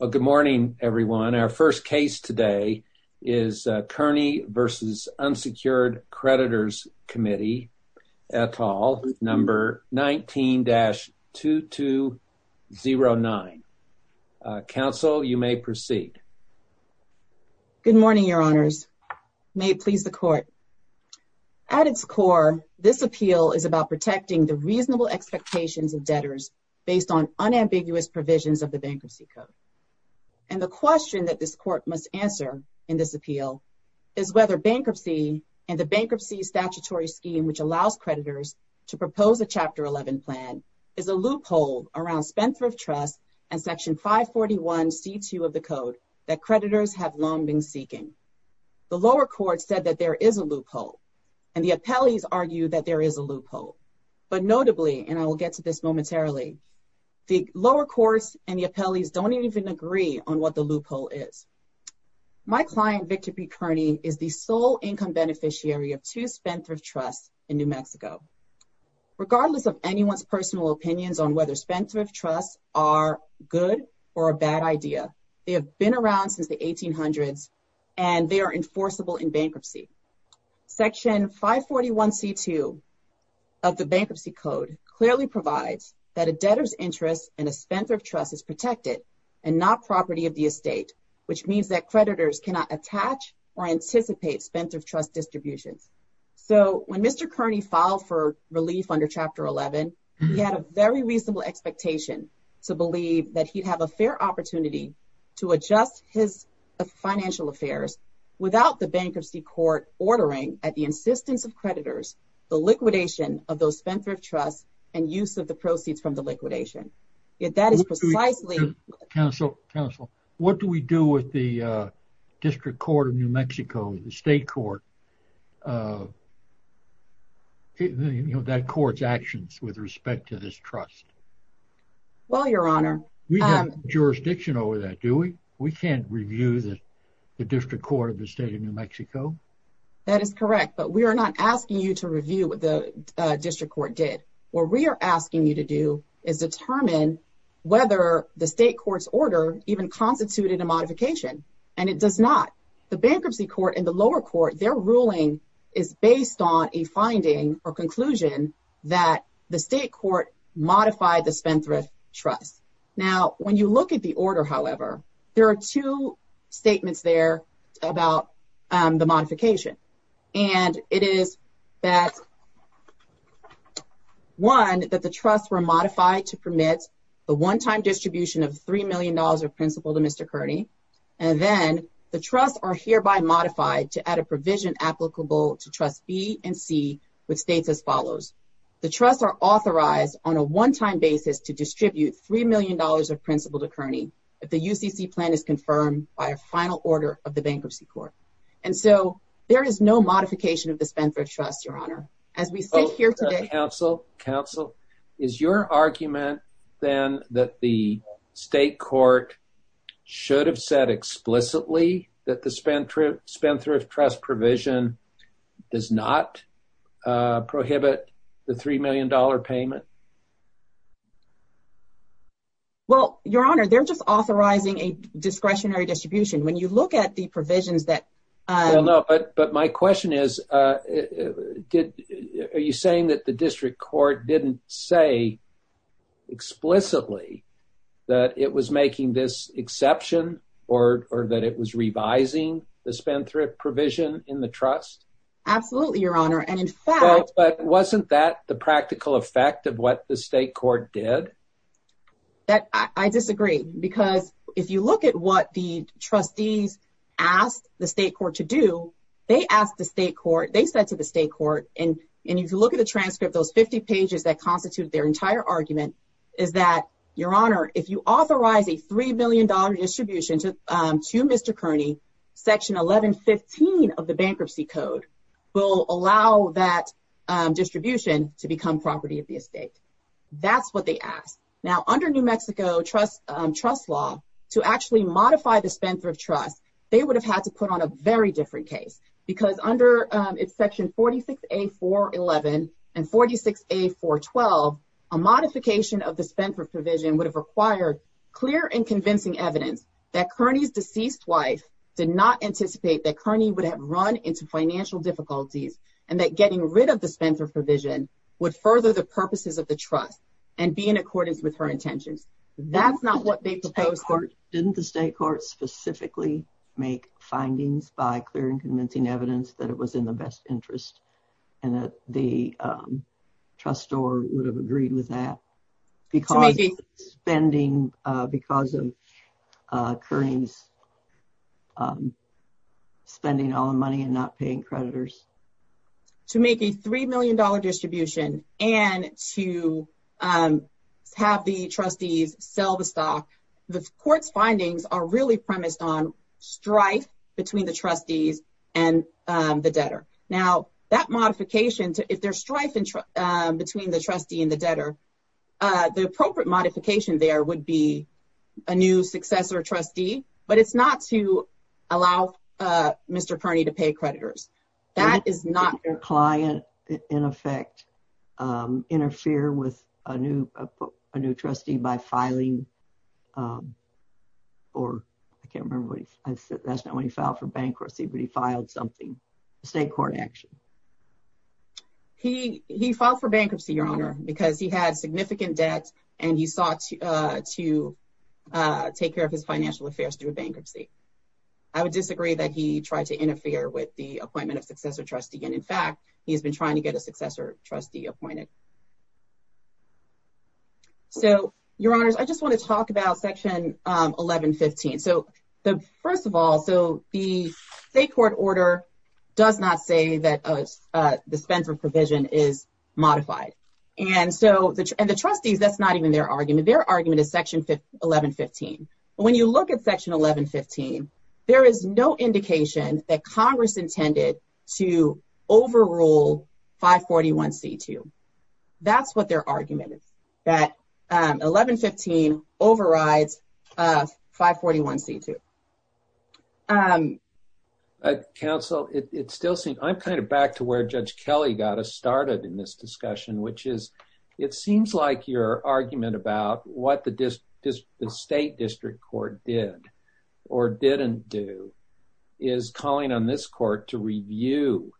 Good morning, everyone. Our first case today is Kearney v. Unsecured Creditors Committee, et al., number 19-2209. Counsel, you may proceed. Good morning, Your Honors. May it please the Court. At its core, this appeal is about protecting the reasonable expectations of debtors based on unambiguous provisions of the Bankruptcy Code. And the question that this Court must answer in this appeal is whether bankruptcy and the bankruptcy statutory scheme which allows creditors to propose a Chapter 11 plan is a loophole around Spendthrift Trust and Section 541c2 of the Code that creditors have long been seeking. The lower court said that there is a loophole, and the appellees argue that there is a loophole. But notably, and I will get to this momentarily, the lower courts and the appellees don't even agree on what the loophole is. My client, Victor P. Kearney, is the sole income beneficiary of two Spendthrift Trusts in New Mexico. Regardless of anyone's personal opinions on whether Spendthrift Trusts are good or a bad idea, they have been around since the 1800s, and they are enforceable in bankruptcy. Section 541c2 of the Bankruptcy Code clearly provides that a debtor's interest in a Spendthrift Trust is protected and not property of the estate, which means that creditors cannot attach or anticipate Spendthrift Trust distributions. So, when Mr. Kearney filed for relief under Chapter 11, he had a very reasonable expectation to believe that he'd have a fair ordering at the insistence of creditors, the liquidation of those Spendthrift Trusts, and use of the proceeds from the liquidation. Yet, that is precisely... Counsel, what do we do with the District Court of New Mexico, the state court, that court's actions with respect to this trust? Well, Your Honor... We have jurisdiction over that, do we? We can't review the District Court of the That is correct, but we are not asking you to review what the District Court did. What we are asking you to do is determine whether the state court's order even constituted a modification, and it does not. The Bankruptcy Court and the lower court, their ruling is based on a finding or conclusion that the state court modified the Spendthrift Trust. Now, when you look at the modification, and it is that, one, that the Trusts were modified to permit the one-time distribution of $3 million of principal to Mr. Kearney, and then the Trusts are hereby modified to add a provision applicable to Trust B and C, which states as follows. The Trusts are authorized on a one-time basis to distribute $3 million of principal to Kearney if the UCC plan is confirmed by a final order of the Bankruptcy Court. And so, there is no modification of the Spendthrift Trust, Your Honor. As we sit here today... Counsel, Counsel, is your argument then that the state court should have said explicitly that the Spendthrift Trust provision does not prohibit the $3 million payment? Well, Your Honor, they're just authorizing a discretionary distribution. When you look at the provisions that... Well, no, but my question is, are you saying that the District Court didn't say explicitly that it was making this exception, or that it was revising the Spendthrift provision in the Trust? Absolutely, Your Honor, and in fact... But wasn't that the practical effect of what the state court did? I disagree, because if you look at what the Trustees asked the state court to do, they asked the state court, they said to the state court, and if you look at the transcript, those 50 pages that constitute their entire argument, is that, Your Honor, if you authorize a $3 million distribution to Mr. Kearney, Section 1115 of the Bankruptcy Code will allow that distribution to become property of the estate. That's what they asked. Now, under New Mexico trust law, to actually modify the Spendthrift Trust, they would have had to put on a very different case, because under Section 46A411 and 46A412, a modification of the Spendthrift provision would have required clear and convincing evidence that Kearney's deceased wife did not anticipate that Kearney would have run into financial difficulties, and that getting rid of the Spendthrift provision would further the purposes of the trust and be in accordance with her intentions. That's not what they proposed. Didn't the state court specifically make findings by clear and convincing evidence that it was in the best interest and that the trustor would have agreed with that, because of Kearney's spending all the money and not paying creditors? To make a $3 million distribution and to have the trustees sell the stock, the court's findings are really premised on strife between the trustees and the debtor. Now, that modification, if there's strife between the trustee and the debtor, the appropriate modification there would be a new successor trustee, but it's not to allow Mr. Kearney to pay creditors. That is not- Did the client, in effect, interfere with a new trustee by filing, or I can't remember, that's not when he filed for bankruptcy, but he filed something, a state court action. He filed for bankruptcy, Your Honor, because he had significant debt and he sought to take care of his financial affairs through a bankruptcy. I would disagree that he tried to interfere with the appointment of successor trustee, and in fact, he has been trying to get a successor trustee appointed. So, Your Honors, I just want to talk about Section 1115. So, first of all, the state court order does not say that a dispenser provision is modified, and the trustees, that's not even their argument. Their argument is Section 1115. When you look at Section 1115, there is no indication that Congress intended to overrule 541C2. That's what their argument is, that 1115 overrides 541C2. Counsel, it still seems- I'm kind of back to where Judge Kelly got us started in this discussion, which is, it seems like your argument about what the state district court did or didn't do is calling on this court to review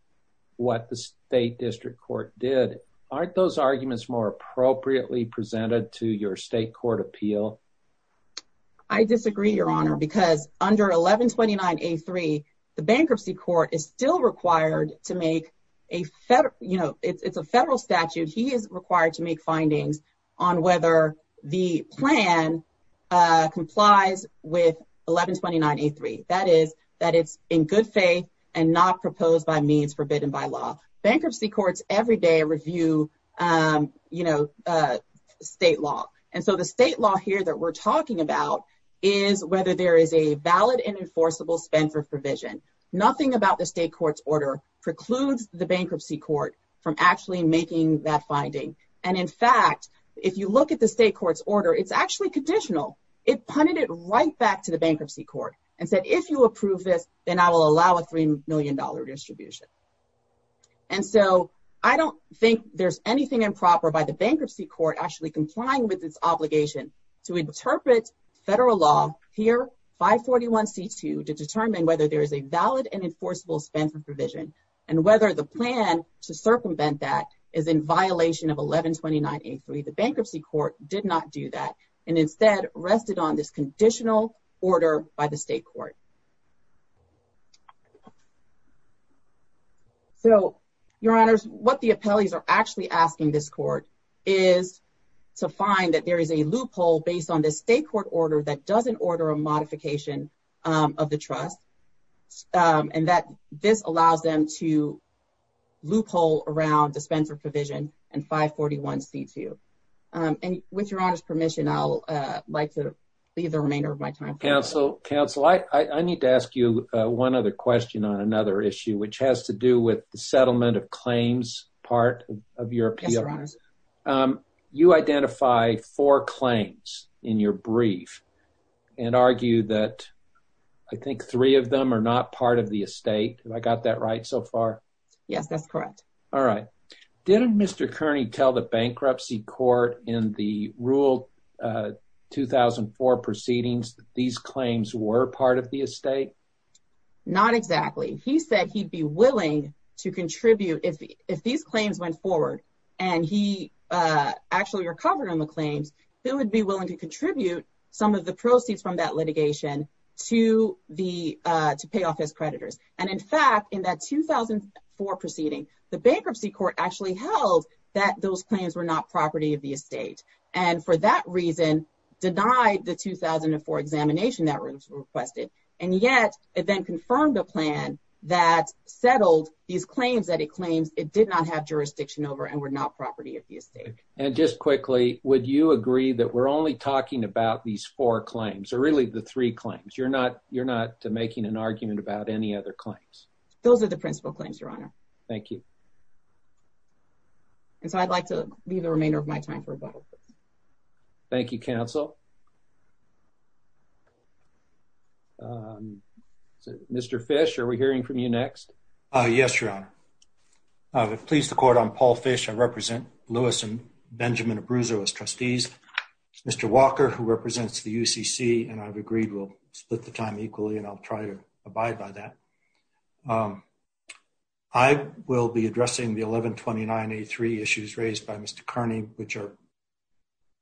what the state district court did. Aren't those arguments more appropriately presented to your state court appeal? I disagree, Your Honor, because under 1129A3, the bankruptcy court is still required to make a federal- you know, it's a federal statute. He is required to make findings on whether the plan complies with 1129A3. That is, that it's in good faith and not proposed by means forbidden by law. Bankruptcy courts every day review, you know, state law, and so the state law here that we're talking about is whether there is a valid and enforceable dispenser provision. Nothing about the state court's order precludes the bankruptcy court from actually making that finding, and in fact, if you look at the state court's order, it's actually conditional. It punted it right back to the bankruptcy court and said, if you approve this, then I will allow a $3 million distribution, and so I don't think there's anything improper by the bankruptcy court actually complying with its obligation to interpret federal law here, 541C2, to determine whether there is a valid and enforceable dispenser provision and whether the plan to circumvent that is in violation of 1129A3. The bankruptcy court did not do that and instead rested on this conditional order by the state court. So, your honors, what the appellees are actually asking this court is to find that there is a loophole based on the state court order that doesn't order a modification of the trust, and that this allows them to loophole around dispenser provision and 541C2. And with your permission, I'd like to leave the remainder of my time. Counsel, I need to ask you one other question on another issue, which has to do with the settlement of claims part of your appeal. You identify four claims in your brief and argue that I think three of them are not part of the estate. Have I got that right so far? Yes, that's correct. All right. Didn't Mr. Kearney tell the bankruptcy court in the rule 2004 proceedings that these claims were part of the estate? Not exactly. He said he'd be willing to contribute if these claims went forward and he actually recovered on the claims, he would be willing to contribute some of the proceeds from that litigation to pay off his creditors. And in fact, in that 2004 proceeding, the bankruptcy court actually held that those claims were not property of the estate and for that reason denied the 2004 examination that was requested. And yet it then confirmed a plan that settled these claims that it claims it did not have jurisdiction over and were not property of the estate. And just quickly, would you agree that we're only talking about these four claims or really the three claims? You're not making an argument about any other claims? Those are the principal claims, your honor. Thank you. And so I'd like to leave the remainder of my time for a moment. Thank you, counsel. Mr. Fish, are we hearing from you next? Yes, your honor. I would please the court. I'm Paul Fish. I represent Lewis and Benjamin Abruzzo as trustees. Mr. Walker, who represents the UCC, and I've agreed we'll split the time equally and I'll try to abide by that. I will be addressing the 1129A3 issues raised by Mr. Kearney, which are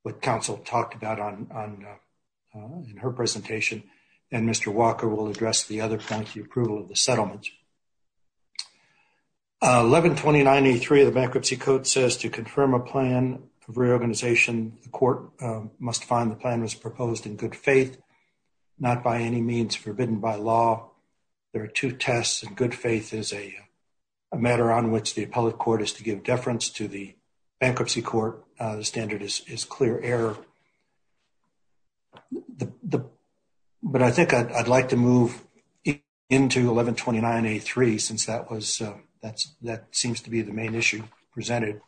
what counsel talked about in her presentation. And Mr. Walker will address the other point, the approval of the settlement. 1129A3 of the bankruptcy code says to confirm a plan of reorganization, the court must find the plan was proposed in good faith, not by any means forbidden by law. There are two tests and good faith is a matter on which the appellate court is to give deference to the bankruptcy court. The standard is clear error. But I think I'd like to move into 1129A3 since that seems to be the main issue presented.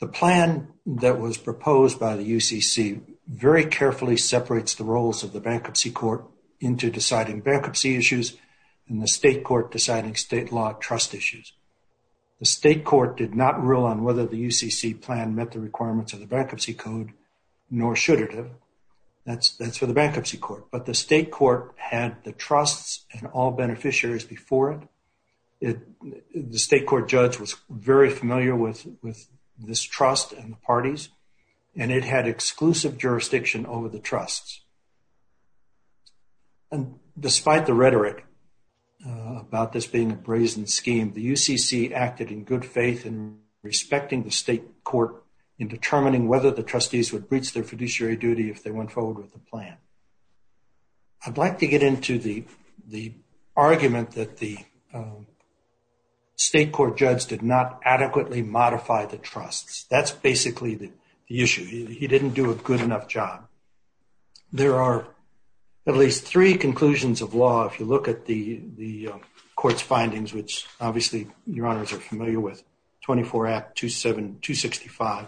The plan that was proposed by the UCC very carefully separates the roles of the bankruptcy court into deciding bankruptcy issues and the state court deciding state law trust issues. The state court did not rule on whether the UCC plan met the requirements of the bankruptcy code, nor should it have. That's for the bankruptcy court. But the state court had the trusts and all beneficiaries before it. The state court judge was very familiar with this trust and the parties, and it had exclusive jurisdiction over the trusts. And despite the rhetoric about this being a brazen scheme, the UCC acted in good faith in respecting the state court in determining whether the trustees would breach their I'd like to get into the argument that the state court judge did not adequately modify the trusts. That's basically the issue. He didn't do a good enough job. There are at least three conclusions of law. If you look at the court's findings, which obviously your honors are familiar with, 24 Act 265,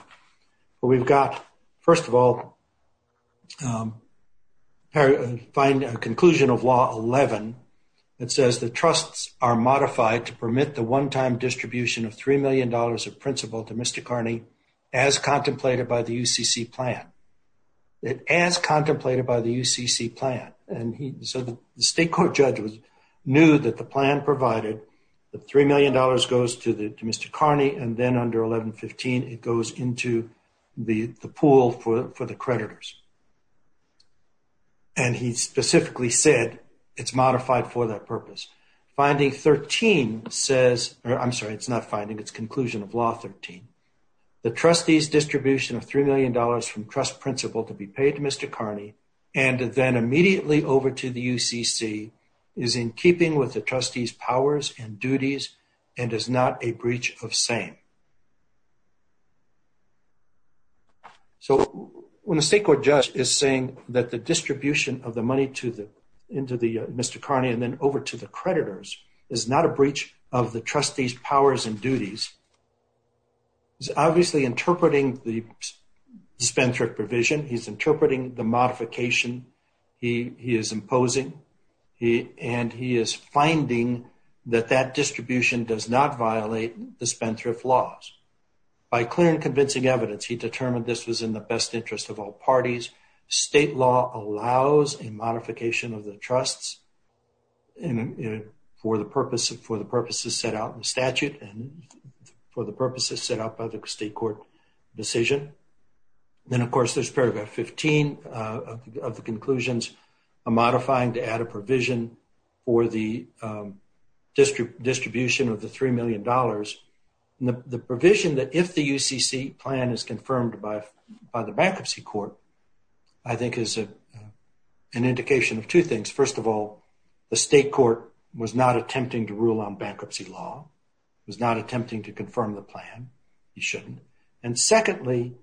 we've got, first of all, find a conclusion of law 11 that says the trusts are modified to permit the one-time distribution of $3 million of principal to Mr. Carney as contemplated by the UCC plan. As contemplated by the UCC plan. And so the state court judge knew that the plan provided the $3 million goes to Mr. Carney, and then under 1115, it goes into the pool for the creditors. And he specifically said, it's modified for that purpose. Finding 13 says, or I'm sorry, it's not finding, it's conclusion of law 13. The trustees distribution of $3 million from trust principal to be paid to Mr. Carney, and then immediately over to the UCC is in keeping with the trustee's powers and duties, and is not a breach of saying. So when the state court judge is saying that the distribution of the money to the, into the Mr. Carney, and then over to the creditors is not a breach of the trustee's powers and duties, he's obviously interpreting the Spendthrift provision. He's interpreting the modification he is imposing, and he is finding that that distribution does not violate the Spendthrift laws. By clear and convincing evidence, he determined this was in the best interest of all parties. State law allows a modification of the trusts for the purposes set out in the statute, and for the purposes set out by the state court decision. Then of course, there's paragraph 15 of the conclusions, a modifying to add a provision for the distribution of the $3 million. The provision that if the UCC plan is confirmed by the bankruptcy court, I think is an indication of two things. First of all, the state court was not attempting to rule on bankruptcy law, was not attempting to confirm the plan, he shouldn't. And secondly,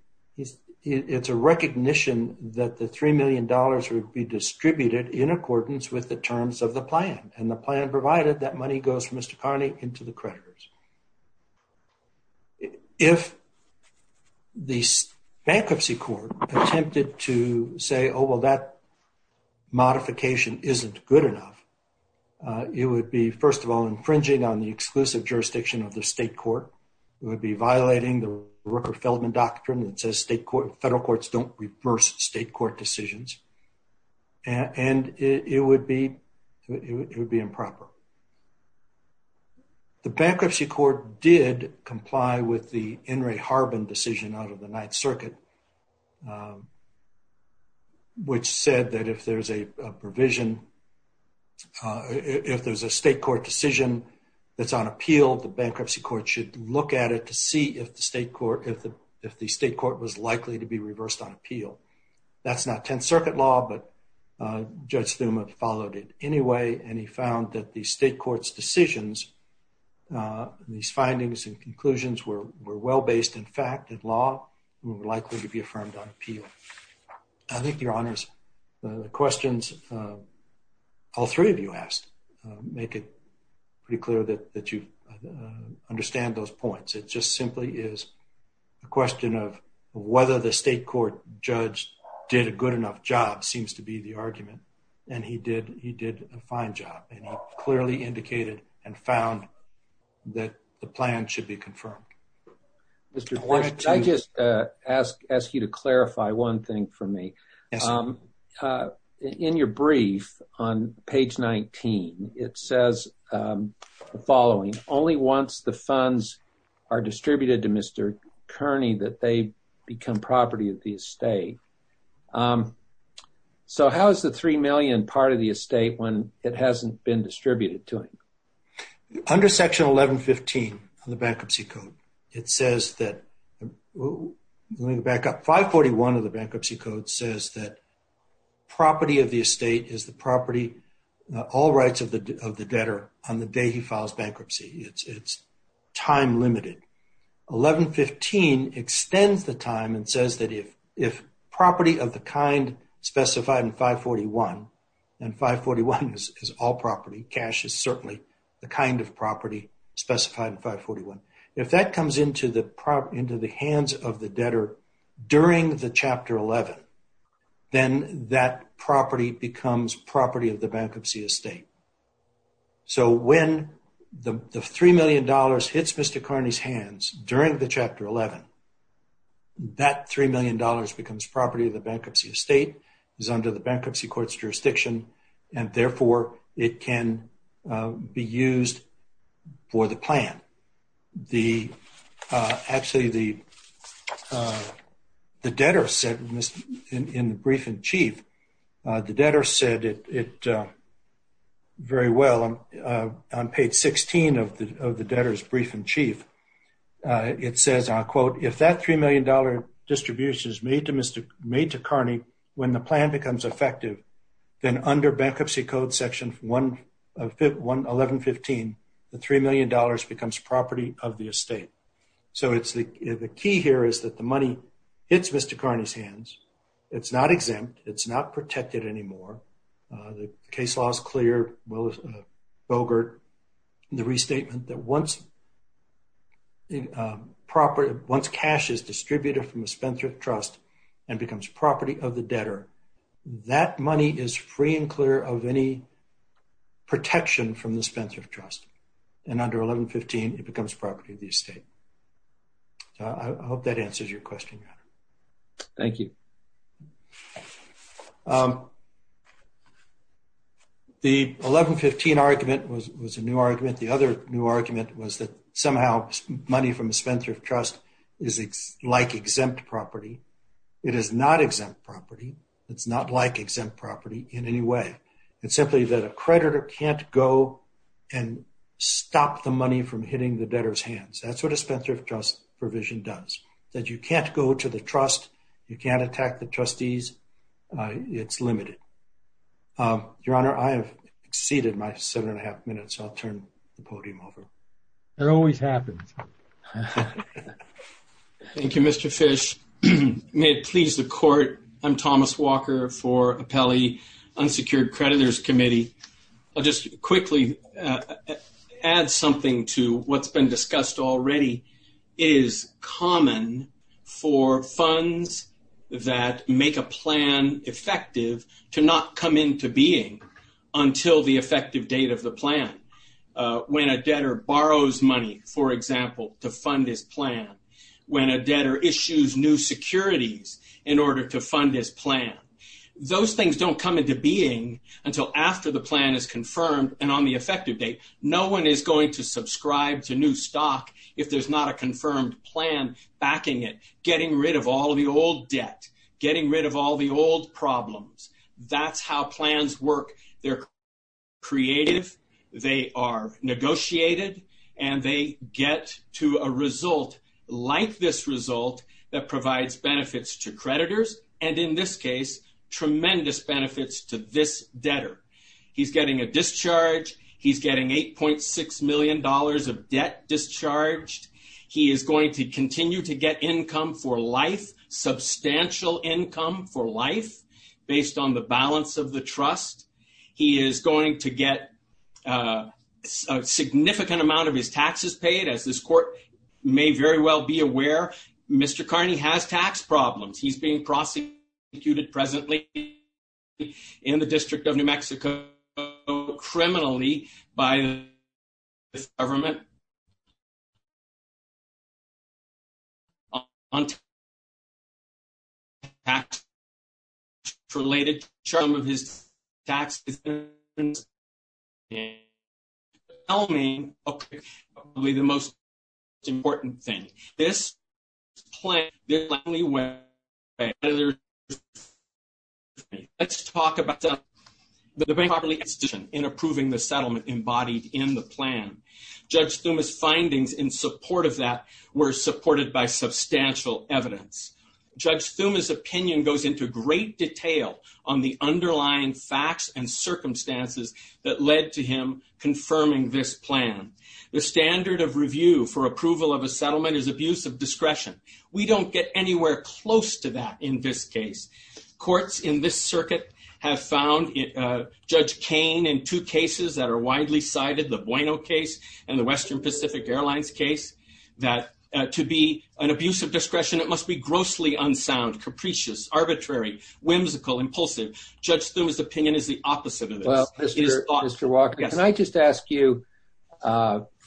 it's a recognition that the $3 million would be distributed in accordance with the terms of the plan, and the plan provided that money goes from Mr. Carney into the creditors. If the bankruptcy court attempted to say, oh, well, that modification isn't good enough, it would be first of all, infringing on the exclusive jurisdiction of the state court, it would be violating the reverse state court decisions, and it would be improper. The bankruptcy court did comply with the In re Harbin decision out of the Ninth Circuit, which said that if there's a provision, if there's a state court decision that's on appeal, the bankruptcy court should look at it to see if the state court was likely to be reversed on appeal. That's not Tenth Circuit law, but Judge Thuma followed it anyway, and he found that the state court's decisions, these findings and conclusions were well-based in fact, in law, were likely to be affirmed on appeal. I think, Your Honors, the questions all three of you asked make it pretty clear that you those points. It just simply is a question of whether the state court judge did a good enough job seems to be the argument, and he did a fine job, and he clearly indicated and found that the plan should be confirmed. I just ask you to clarify one thing for me. Yes, sir. In your brief on page 19, it says the following, only once the funds are distributed to Mr. Kearney that they become property of the estate. So, how is the three million part of the estate when it hasn't been distributed to him? Under section 1115 of the bankruptcy code, it says that, let me back up, 541 of the bankruptcy code says that property of the estate is the property, all rights of the debtor on the day he files bankruptcy. It's time limited. 1115 extends the time and says that if property of the kind specified in 541, and 541 is all property, cash is certainly the kind of property specified in 541. If that comes into the hands of the debtor during the chapter 11, then that property becomes property of the bankruptcy estate. So, when the $3 million hits Mr. Kearney's hands during the chapter 11, that $3 million becomes property of the bankruptcy estate, is under the bankruptcy jurisdiction, and therefore, it can be used for the plan. Actually, the debtor said in the brief in chief, the debtor said it very well. On page 16 of the debtor's brief in chief, it says, if that $3 million distribution is made to Kearney when the plan becomes effective, then under bankruptcy code section 1115, the $3 million becomes property of the estate. So, the key here is that the money hits Mr. Kearney's hands. It's not exempt. It's not once cash is distributed from the Spendthrift Trust and becomes property of the debtor. That money is free and clear of any protection from the Spendthrift Trust, and under 1115, it becomes property of the estate. I hope that answers your question. Thank you. The 1115 argument was a new argument. The other new argument was that somehow money from the trust is like exempt property. It is not exempt property. It's not like exempt property in any way. It's simply that a creditor can't go and stop the money from hitting the debtor's hands. That's what a Spendthrift Trust provision does, that you can't go to the trust. You can't attack the trustees. It's limited. Your Honor, I have exceeded my seven and a half minutes. I'll turn the podium over. It always happens. Thank you, Mr. Fish. May it please the Court, I'm Thomas Walker for Appellee Unsecured Creditors Committee. I'll just quickly add something to what's been discussed already. It is common for funds that make a plan effective to not come into being until the debtor borrows money, for example, to fund his plan. When a debtor issues new securities in order to fund his plan, those things don't come into being until after the plan is confirmed and on the effective date. No one is going to subscribe to new stock if there's not a confirmed plan backing it, getting rid of all the old debt, getting rid of all the old problems. That's how plans work. They're negotiated, and they get to a result like this result that provides benefits to creditors, and in this case, tremendous benefits to this debtor. He's getting a discharge. He's getting $8.6 million of debt discharged. He is going to continue to get income for life, substantial income for life, based on the balance of the trust. He is going to get a significant amount of his taxes paid. As this Court may very well be aware, Mr. Carney has tax problems. He's being taxed related to some of his tax decisions, and the settlement is probably the most important thing. Let's talk about the bank properly institution in approving the settlement embodied in the plan. Judge Thuma's findings in support of that were supported by substantial evidence. Judge Thuma's opinion goes into great detail on the underlying facts and circumstances that led to him confirming this plan. The standard of review for approval of a settlement is abuse of discretion. We don't get anywhere close to that in this case. Courts in this circuit have found Judge Kane in two cases that are widely cited, the Bueno case and the Western Pacific Airlines case, that to be an abuse of discretion, it must be grossly unsound, capricious, arbitrary, whimsical, impulsive. Judge Thuma's opinion is the opposite of this. Mr. Walker, can I just ask you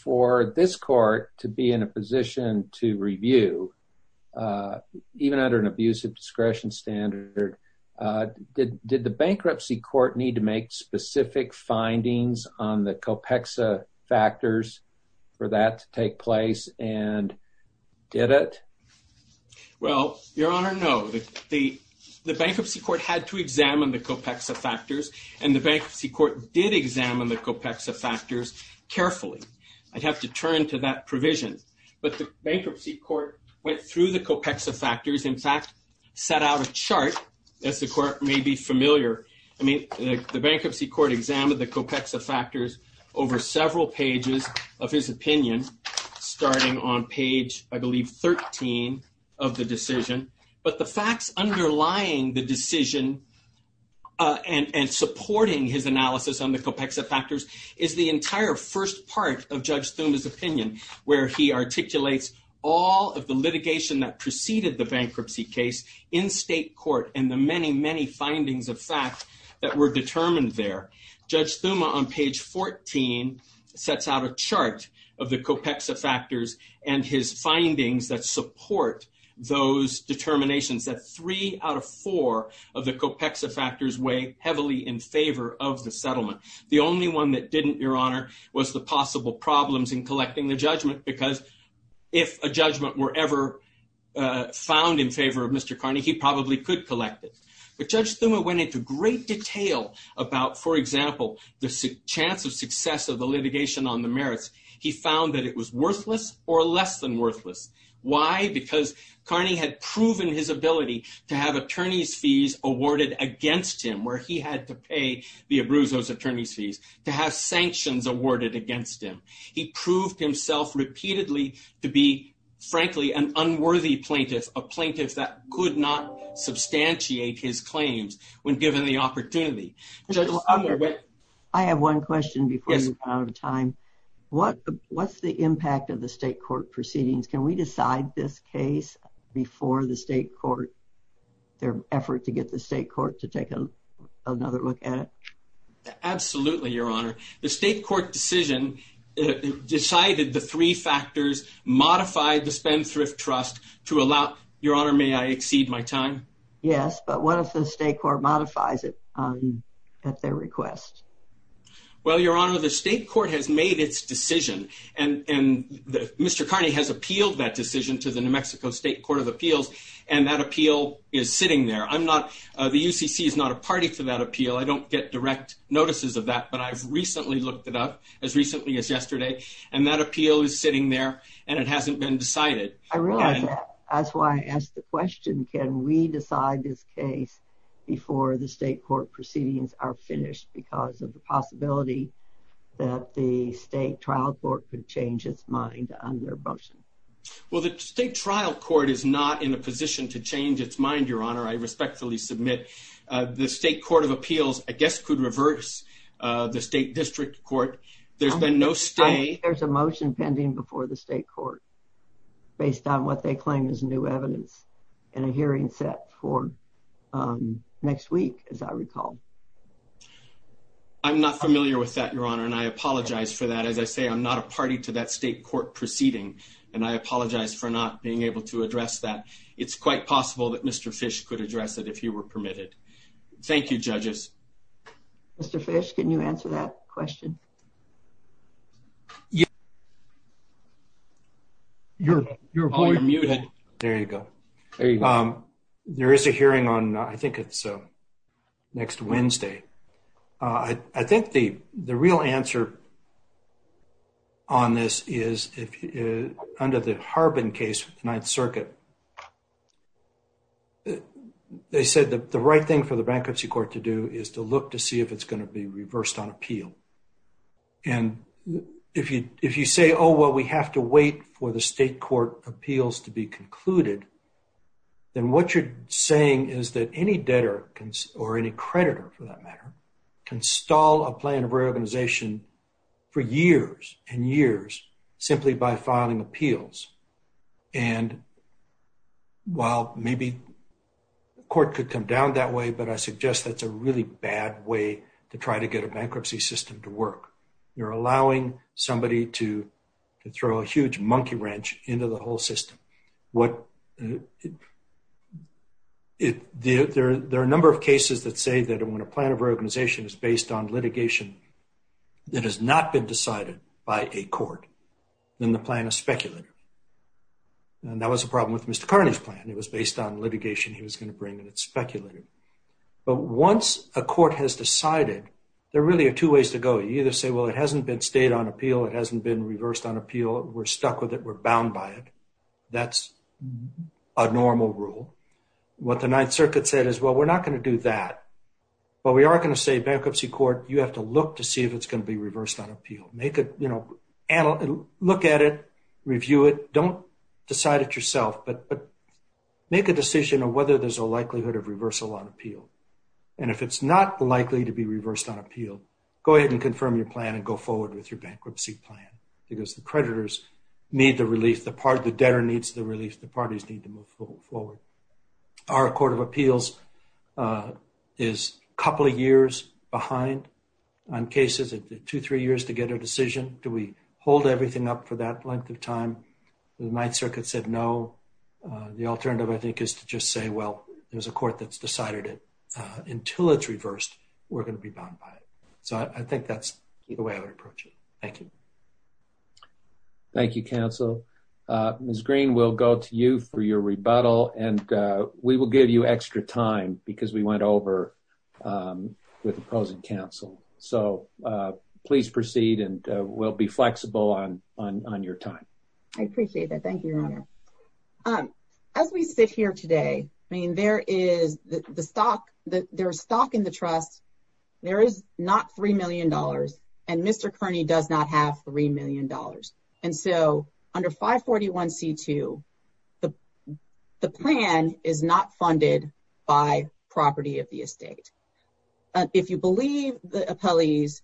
for this Court to be in a position to review, even under an abuse of discretion standard, did the bankruptcy court need to make specific findings on the COPEXA factors for that to take place and did it? Well, Your Honor, no. The bankruptcy court had to examine the COPEXA factors, and the bankruptcy court did examine the COPEXA factors carefully. I'd have to turn to that provision, but the bankruptcy court went through the COPEXA factors, in fact, set out a chart, as the Court may be familiar. I mean, the bankruptcy court examined the COPEXA factors over several pages of his opinion, starting on page, I believe, 13 of the decision, but the facts underlying the decision and supporting his analysis on the COPEXA factors is the entire first part of Judge Thuma's opinion, where he articulates all of the facts that preceded the bankruptcy case in state court and the many, many findings of fact that were determined there. Judge Thuma, on page 14, sets out a chart of the COPEXA factors and his findings that support those determinations, that three out of four of the COPEXA factors weigh heavily in favor of the settlement. The only one that didn't, Your Honor, was the possible problems in collecting the judgment, because if a judgment were ever found in favor of Mr. Carney, he probably could collect it, but Judge Thuma went into great detail about, for example, the chance of success of the litigation on the merits. He found that it was worthless or less than worthless. Why? Because Carney had proven his ability to have attorney's fees awarded against him, where he had to pay Villabruzzo's attorney's fees, to have sanctions awarded against him. He proved himself repeatedly to be, frankly, an unworthy plaintiff, a plaintiff that could not substantiate his claims when given the opportunity. Judge Thuma went... I have one question before you run out of time. What's the impact of the state court proceedings? Can we decide this case before the state court, their Absolutely, Your Honor. The state court decision decided the three factors, modified the spend thrift trust to allow... Your Honor, may I exceed my time? Yes, but what if the state court modifies it at their request? Well, Your Honor, the state court has made its decision, and Mr. Carney has appealed that decision to the New Mexico State Court of Appeals, and that appeal is sitting there. The UCC is not a party to that appeal. I don't get direct notices of that, but I've recently looked it up, as recently as yesterday, and that appeal is sitting there, and it hasn't been decided. I realize that. That's why I asked the question, can we decide this case before the state court proceedings are finished because of the possibility that the state trial court could change its mind on their motion? Well, the state trial court is not in a position to change its mind, Your Honor. I respectfully submit the state court of appeals, I guess, could reverse the state district court. There's been no stay. There's a motion pending before the state court based on what they claim is new evidence in a hearing set for next week, as I recall. I'm not familiar with that, Your Honor, and I apologize for that. As I say, I'm not a party to that state court proceeding, and I apologize for not being able to address that. It's quite possible that Mr. Fish could address it if he were permitted. Thank you, judges. Mr. Fish, can you answer that question? You're muted. There you go. There is a hearing on, I think it's next Wednesday. I think the real answer on this is, under the Harbin case with the Ninth Circuit, they said that the right thing for the bankruptcy court to do is to look to see if it's going to be reversed on appeal. And if you say, oh, well, we have to wait for the state court appeals to be can stall a plan of reorganization for years and years simply by filing appeals. And while maybe the court could come down that way, but I suggest that's a really bad way to try to get a bankruptcy system to work. You're allowing somebody to throw a huge monkey wrench into the whole system. There are a number of cases that say that when a plan of reorganization is based on litigation that has not been decided by a court, then the plan is speculative. And that was a problem with Mr. Carney's plan. It was based on litigation he was going to bring, and it's speculative. But once a court has decided, there really are two ways to go. You either say, well, it hasn't been stayed on appeal. It hasn't been reversed on by it. That's a normal rule. What the ninth circuit said is, well, we're not going to do that, but we are going to say bankruptcy court, you have to look to see if it's going to be reversed on appeal. Look at it, review it. Don't decide it yourself, but make a decision of whether there's a likelihood of reversal on appeal. And if it's not likely to be reversed on appeal, go ahead and confirm your plan and go forward with your bankruptcy plan because the creditors need the relief. The debtor needs the relief. The parties need to move forward. Our court of appeals is a couple of years behind on cases. It took two, three years to get a decision. Do we hold everything up for that length of time? The ninth circuit said no. The alternative, I think, is to just say, well, there's a court that's decided it. Until it's reversed, we're going to be bound by it. So I think that's the way I would approach it. Thank you. Thank you, counsel. Ms. Green, we'll go to you for your rebuttal and we will give you extra time because we went over with opposing counsel. So please proceed and we'll be flexible on your time. I appreciate that. Thank you, your honor. As we sit here today, I mean, there is stock in the trust. There is not $3 million and Mr. Kearney does not have $3 million. And so under 541C2, the plan is not funded by property of the estate. If you believe the appellees,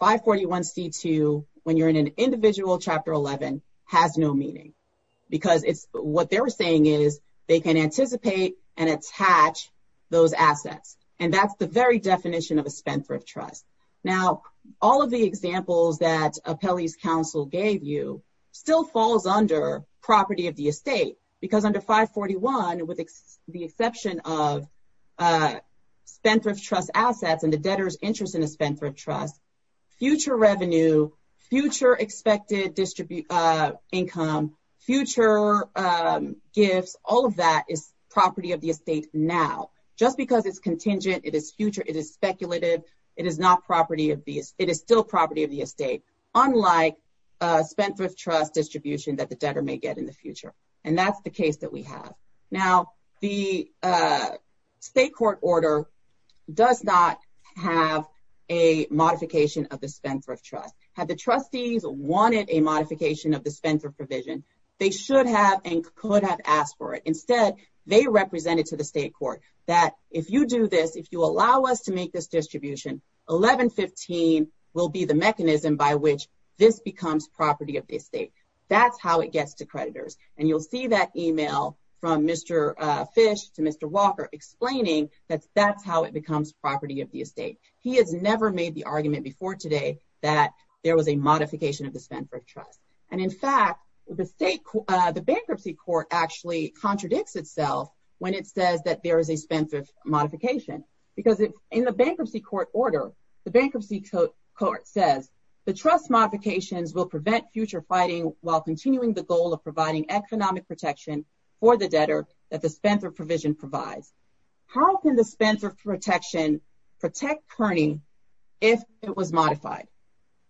541C2, when you're in an individual chapter 11, has no meaning because what they're saying is they can anticipate and attach those assets. And that's the very definition of a spent thrift trust. Now, all of the examples that appellee's counsel gave you still falls under property of the estate because under 541, with the exception of spent thrift trust assets and the debtor's interest in a spent thrift trust, future revenue, future expected income, future gifts, all of that is property of the estate now. Just because it's contingent, it is future, it is speculative, it is still property of the estate, unlike spent thrift trust distribution that the debtor may get in the future. And that's the case that we have. Now, the state court order does not have a modification of the spent thrift trust. Had the trustees wanted a modification of the spent thrift trust, they would not have asked for it. Instead, they represented to the state court that if you do this, if you allow us to make this distribution, 1115 will be the mechanism by which this becomes property of the estate. That's how it gets to creditors. And you'll see that email from Mr. Fish to Mr. Walker explaining that that's how it becomes property of the estate. He has never made the argument before today that there was a modification of the spent thrift trust. And in fact, the bankruptcy court actually contradicts itself when it says that there is a spent thrift modification. Because in the bankruptcy court order, the bankruptcy court says the trust modifications will prevent future fighting while continuing the goal of providing economic protection for the debtor that the spent thrift provision provides. How can the spent thrift protection protect Kearney if it was modified?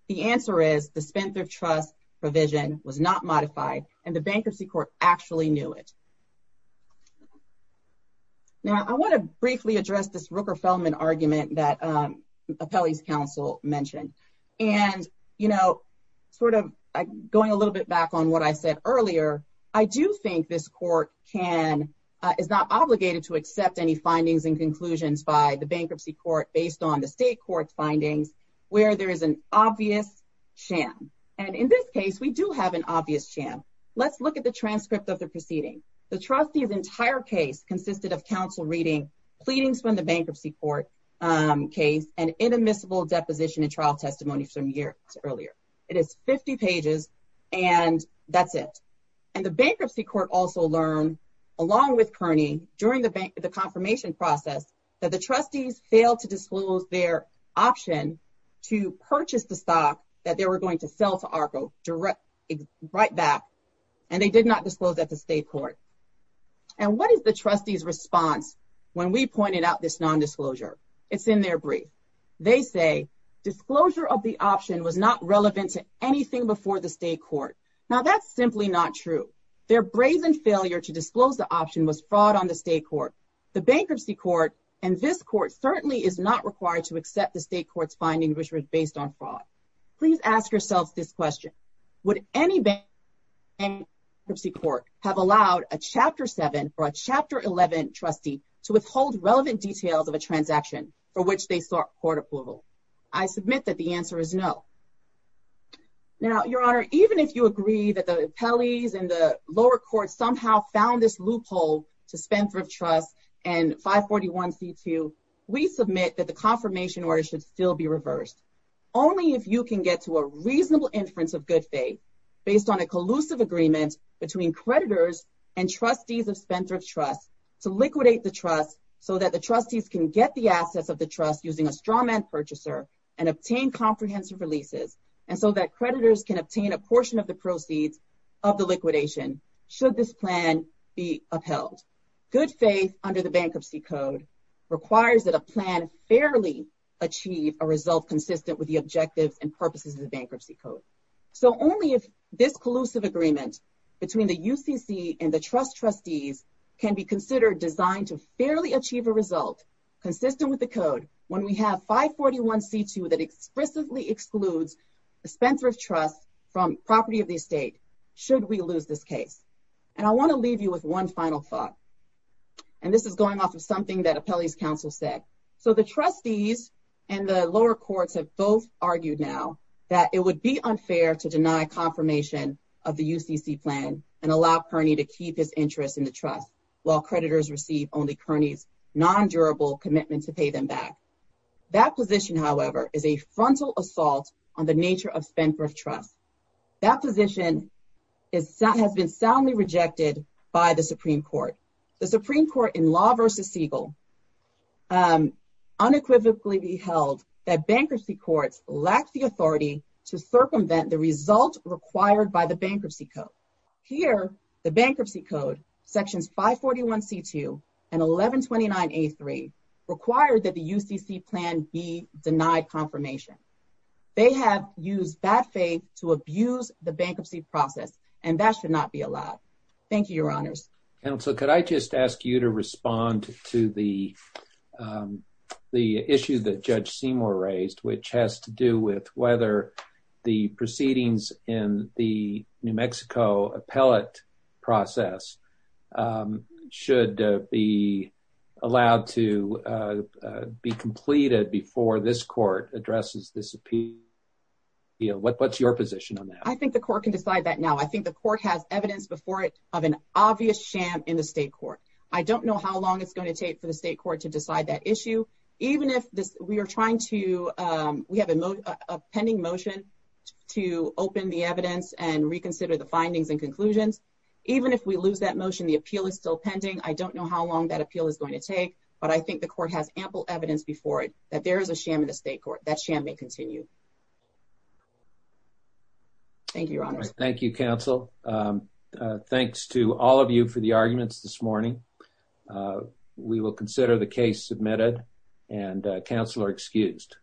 The answer is the spent thrift trust provision was not modified and the bankruptcy court actually knew it. Now, I want to briefly address this Rooker-Feldman argument that Apelli's counsel mentioned. And, you know, sort of going a little bit back on what I said earlier, I do think this court is not obligated to accept any findings and conclusions by the bankruptcy court based on the state court's findings where there is an obvious sham. And in this case, we do have an obvious sham. Let's look at the transcript of the proceeding. The trustee's entire case consisted of counsel reading pleadings from the bankruptcy court case and inadmissible deposition and trial testimony from years earlier. It is 50 pages and that's it. And the bankruptcy court also learned along with Kearney during the confirmation process that the trustees failed to disclose their option to purchase the stock that they were going to sell to ARCO right back and they did not disclose at the state court. And what is the trustee's response when we pointed out this disclosure of the option was not relevant to anything before the state court. Now, that's simply not true. Their brazen failure to disclose the option was fraud on the state court. The bankruptcy court and this court certainly is not required to accept the state court's finding which was based on fraud. Please ask yourselves this question. Would any bankruptcy court have allowed a Chapter 7 or a Chapter 11 trustee to withhold relevant details of a transaction for which they I submit that the answer is no. Now, Your Honor, even if you agree that the appellees and the lower court somehow found this loophole to Spendthrift Trust and 541c2, we submit that the confirmation order should still be reversed only if you can get to a reasonable inference of good faith based on a collusive agreement between creditors and trustees of Spendthrift Trust to liquidate the trust so that the trustees can get the assets of the trust using a strawman purchaser and obtain comprehensive releases and so that creditors can obtain a portion of the proceeds of the liquidation should this plan be upheld. Good faith under the bankruptcy code requires that a plan fairly achieve a result consistent with the objectives and purposes of the bankruptcy code. So only if this collusive agreement between the UCC and the trust trustees can be considered designed to fairly achieve a result consistent with the code when we have 541c2 that explicitly excludes the Spendthrift Trust from property of the estate should we lose this case. And I want to leave you with one final thought and this is going off of something that appellees counsel said. So the trustees and the lower courts have both argued now that it would be unfair to deny confirmation of the UCC plan and allow Kearney to keep his interest in the trust while creditors receive only Kearney's non-durable commitment to pay them back. That position, however, is a frontal assault on the nature of Spendthrift Trust. That position has been soundly rejected by the Supreme Court. The Supreme Court in Law v. Siegel unequivocally held that bankruptcy courts lack the authority to circumvent the result required by the bankruptcy code. Here the bankruptcy code sections 541c2 and 1129a3 require that the UCC plan be denied confirmation. They have used bad faith to abuse the bankruptcy process and that should not be allowed. Thank you, your honors. Counsel, could I just ask you to respond to the the issue that Judge Seymour raised which has to do with whether the proceedings in the New Mexico appellate process should be allowed to be completed before this court addresses this appeal? You know, what's your position on that? I think the court can decide that now. I think the court has evidence before it of an obvious sham in the state court. I don't know how long it's going to take for the state court to decide that issue. We have a pending motion to open the evidence and reconsider the findings and conclusions. Even if we lose that motion, the appeal is still pending. I don't know how long that appeal is going to take, but I think the court has ample evidence before it that there is a sham in the state court. That sham may continue. Thank you, your honors. Thank you, counsel. Thanks to all of you for the arguments this morning. We will consider the case submitted and counsel are excused.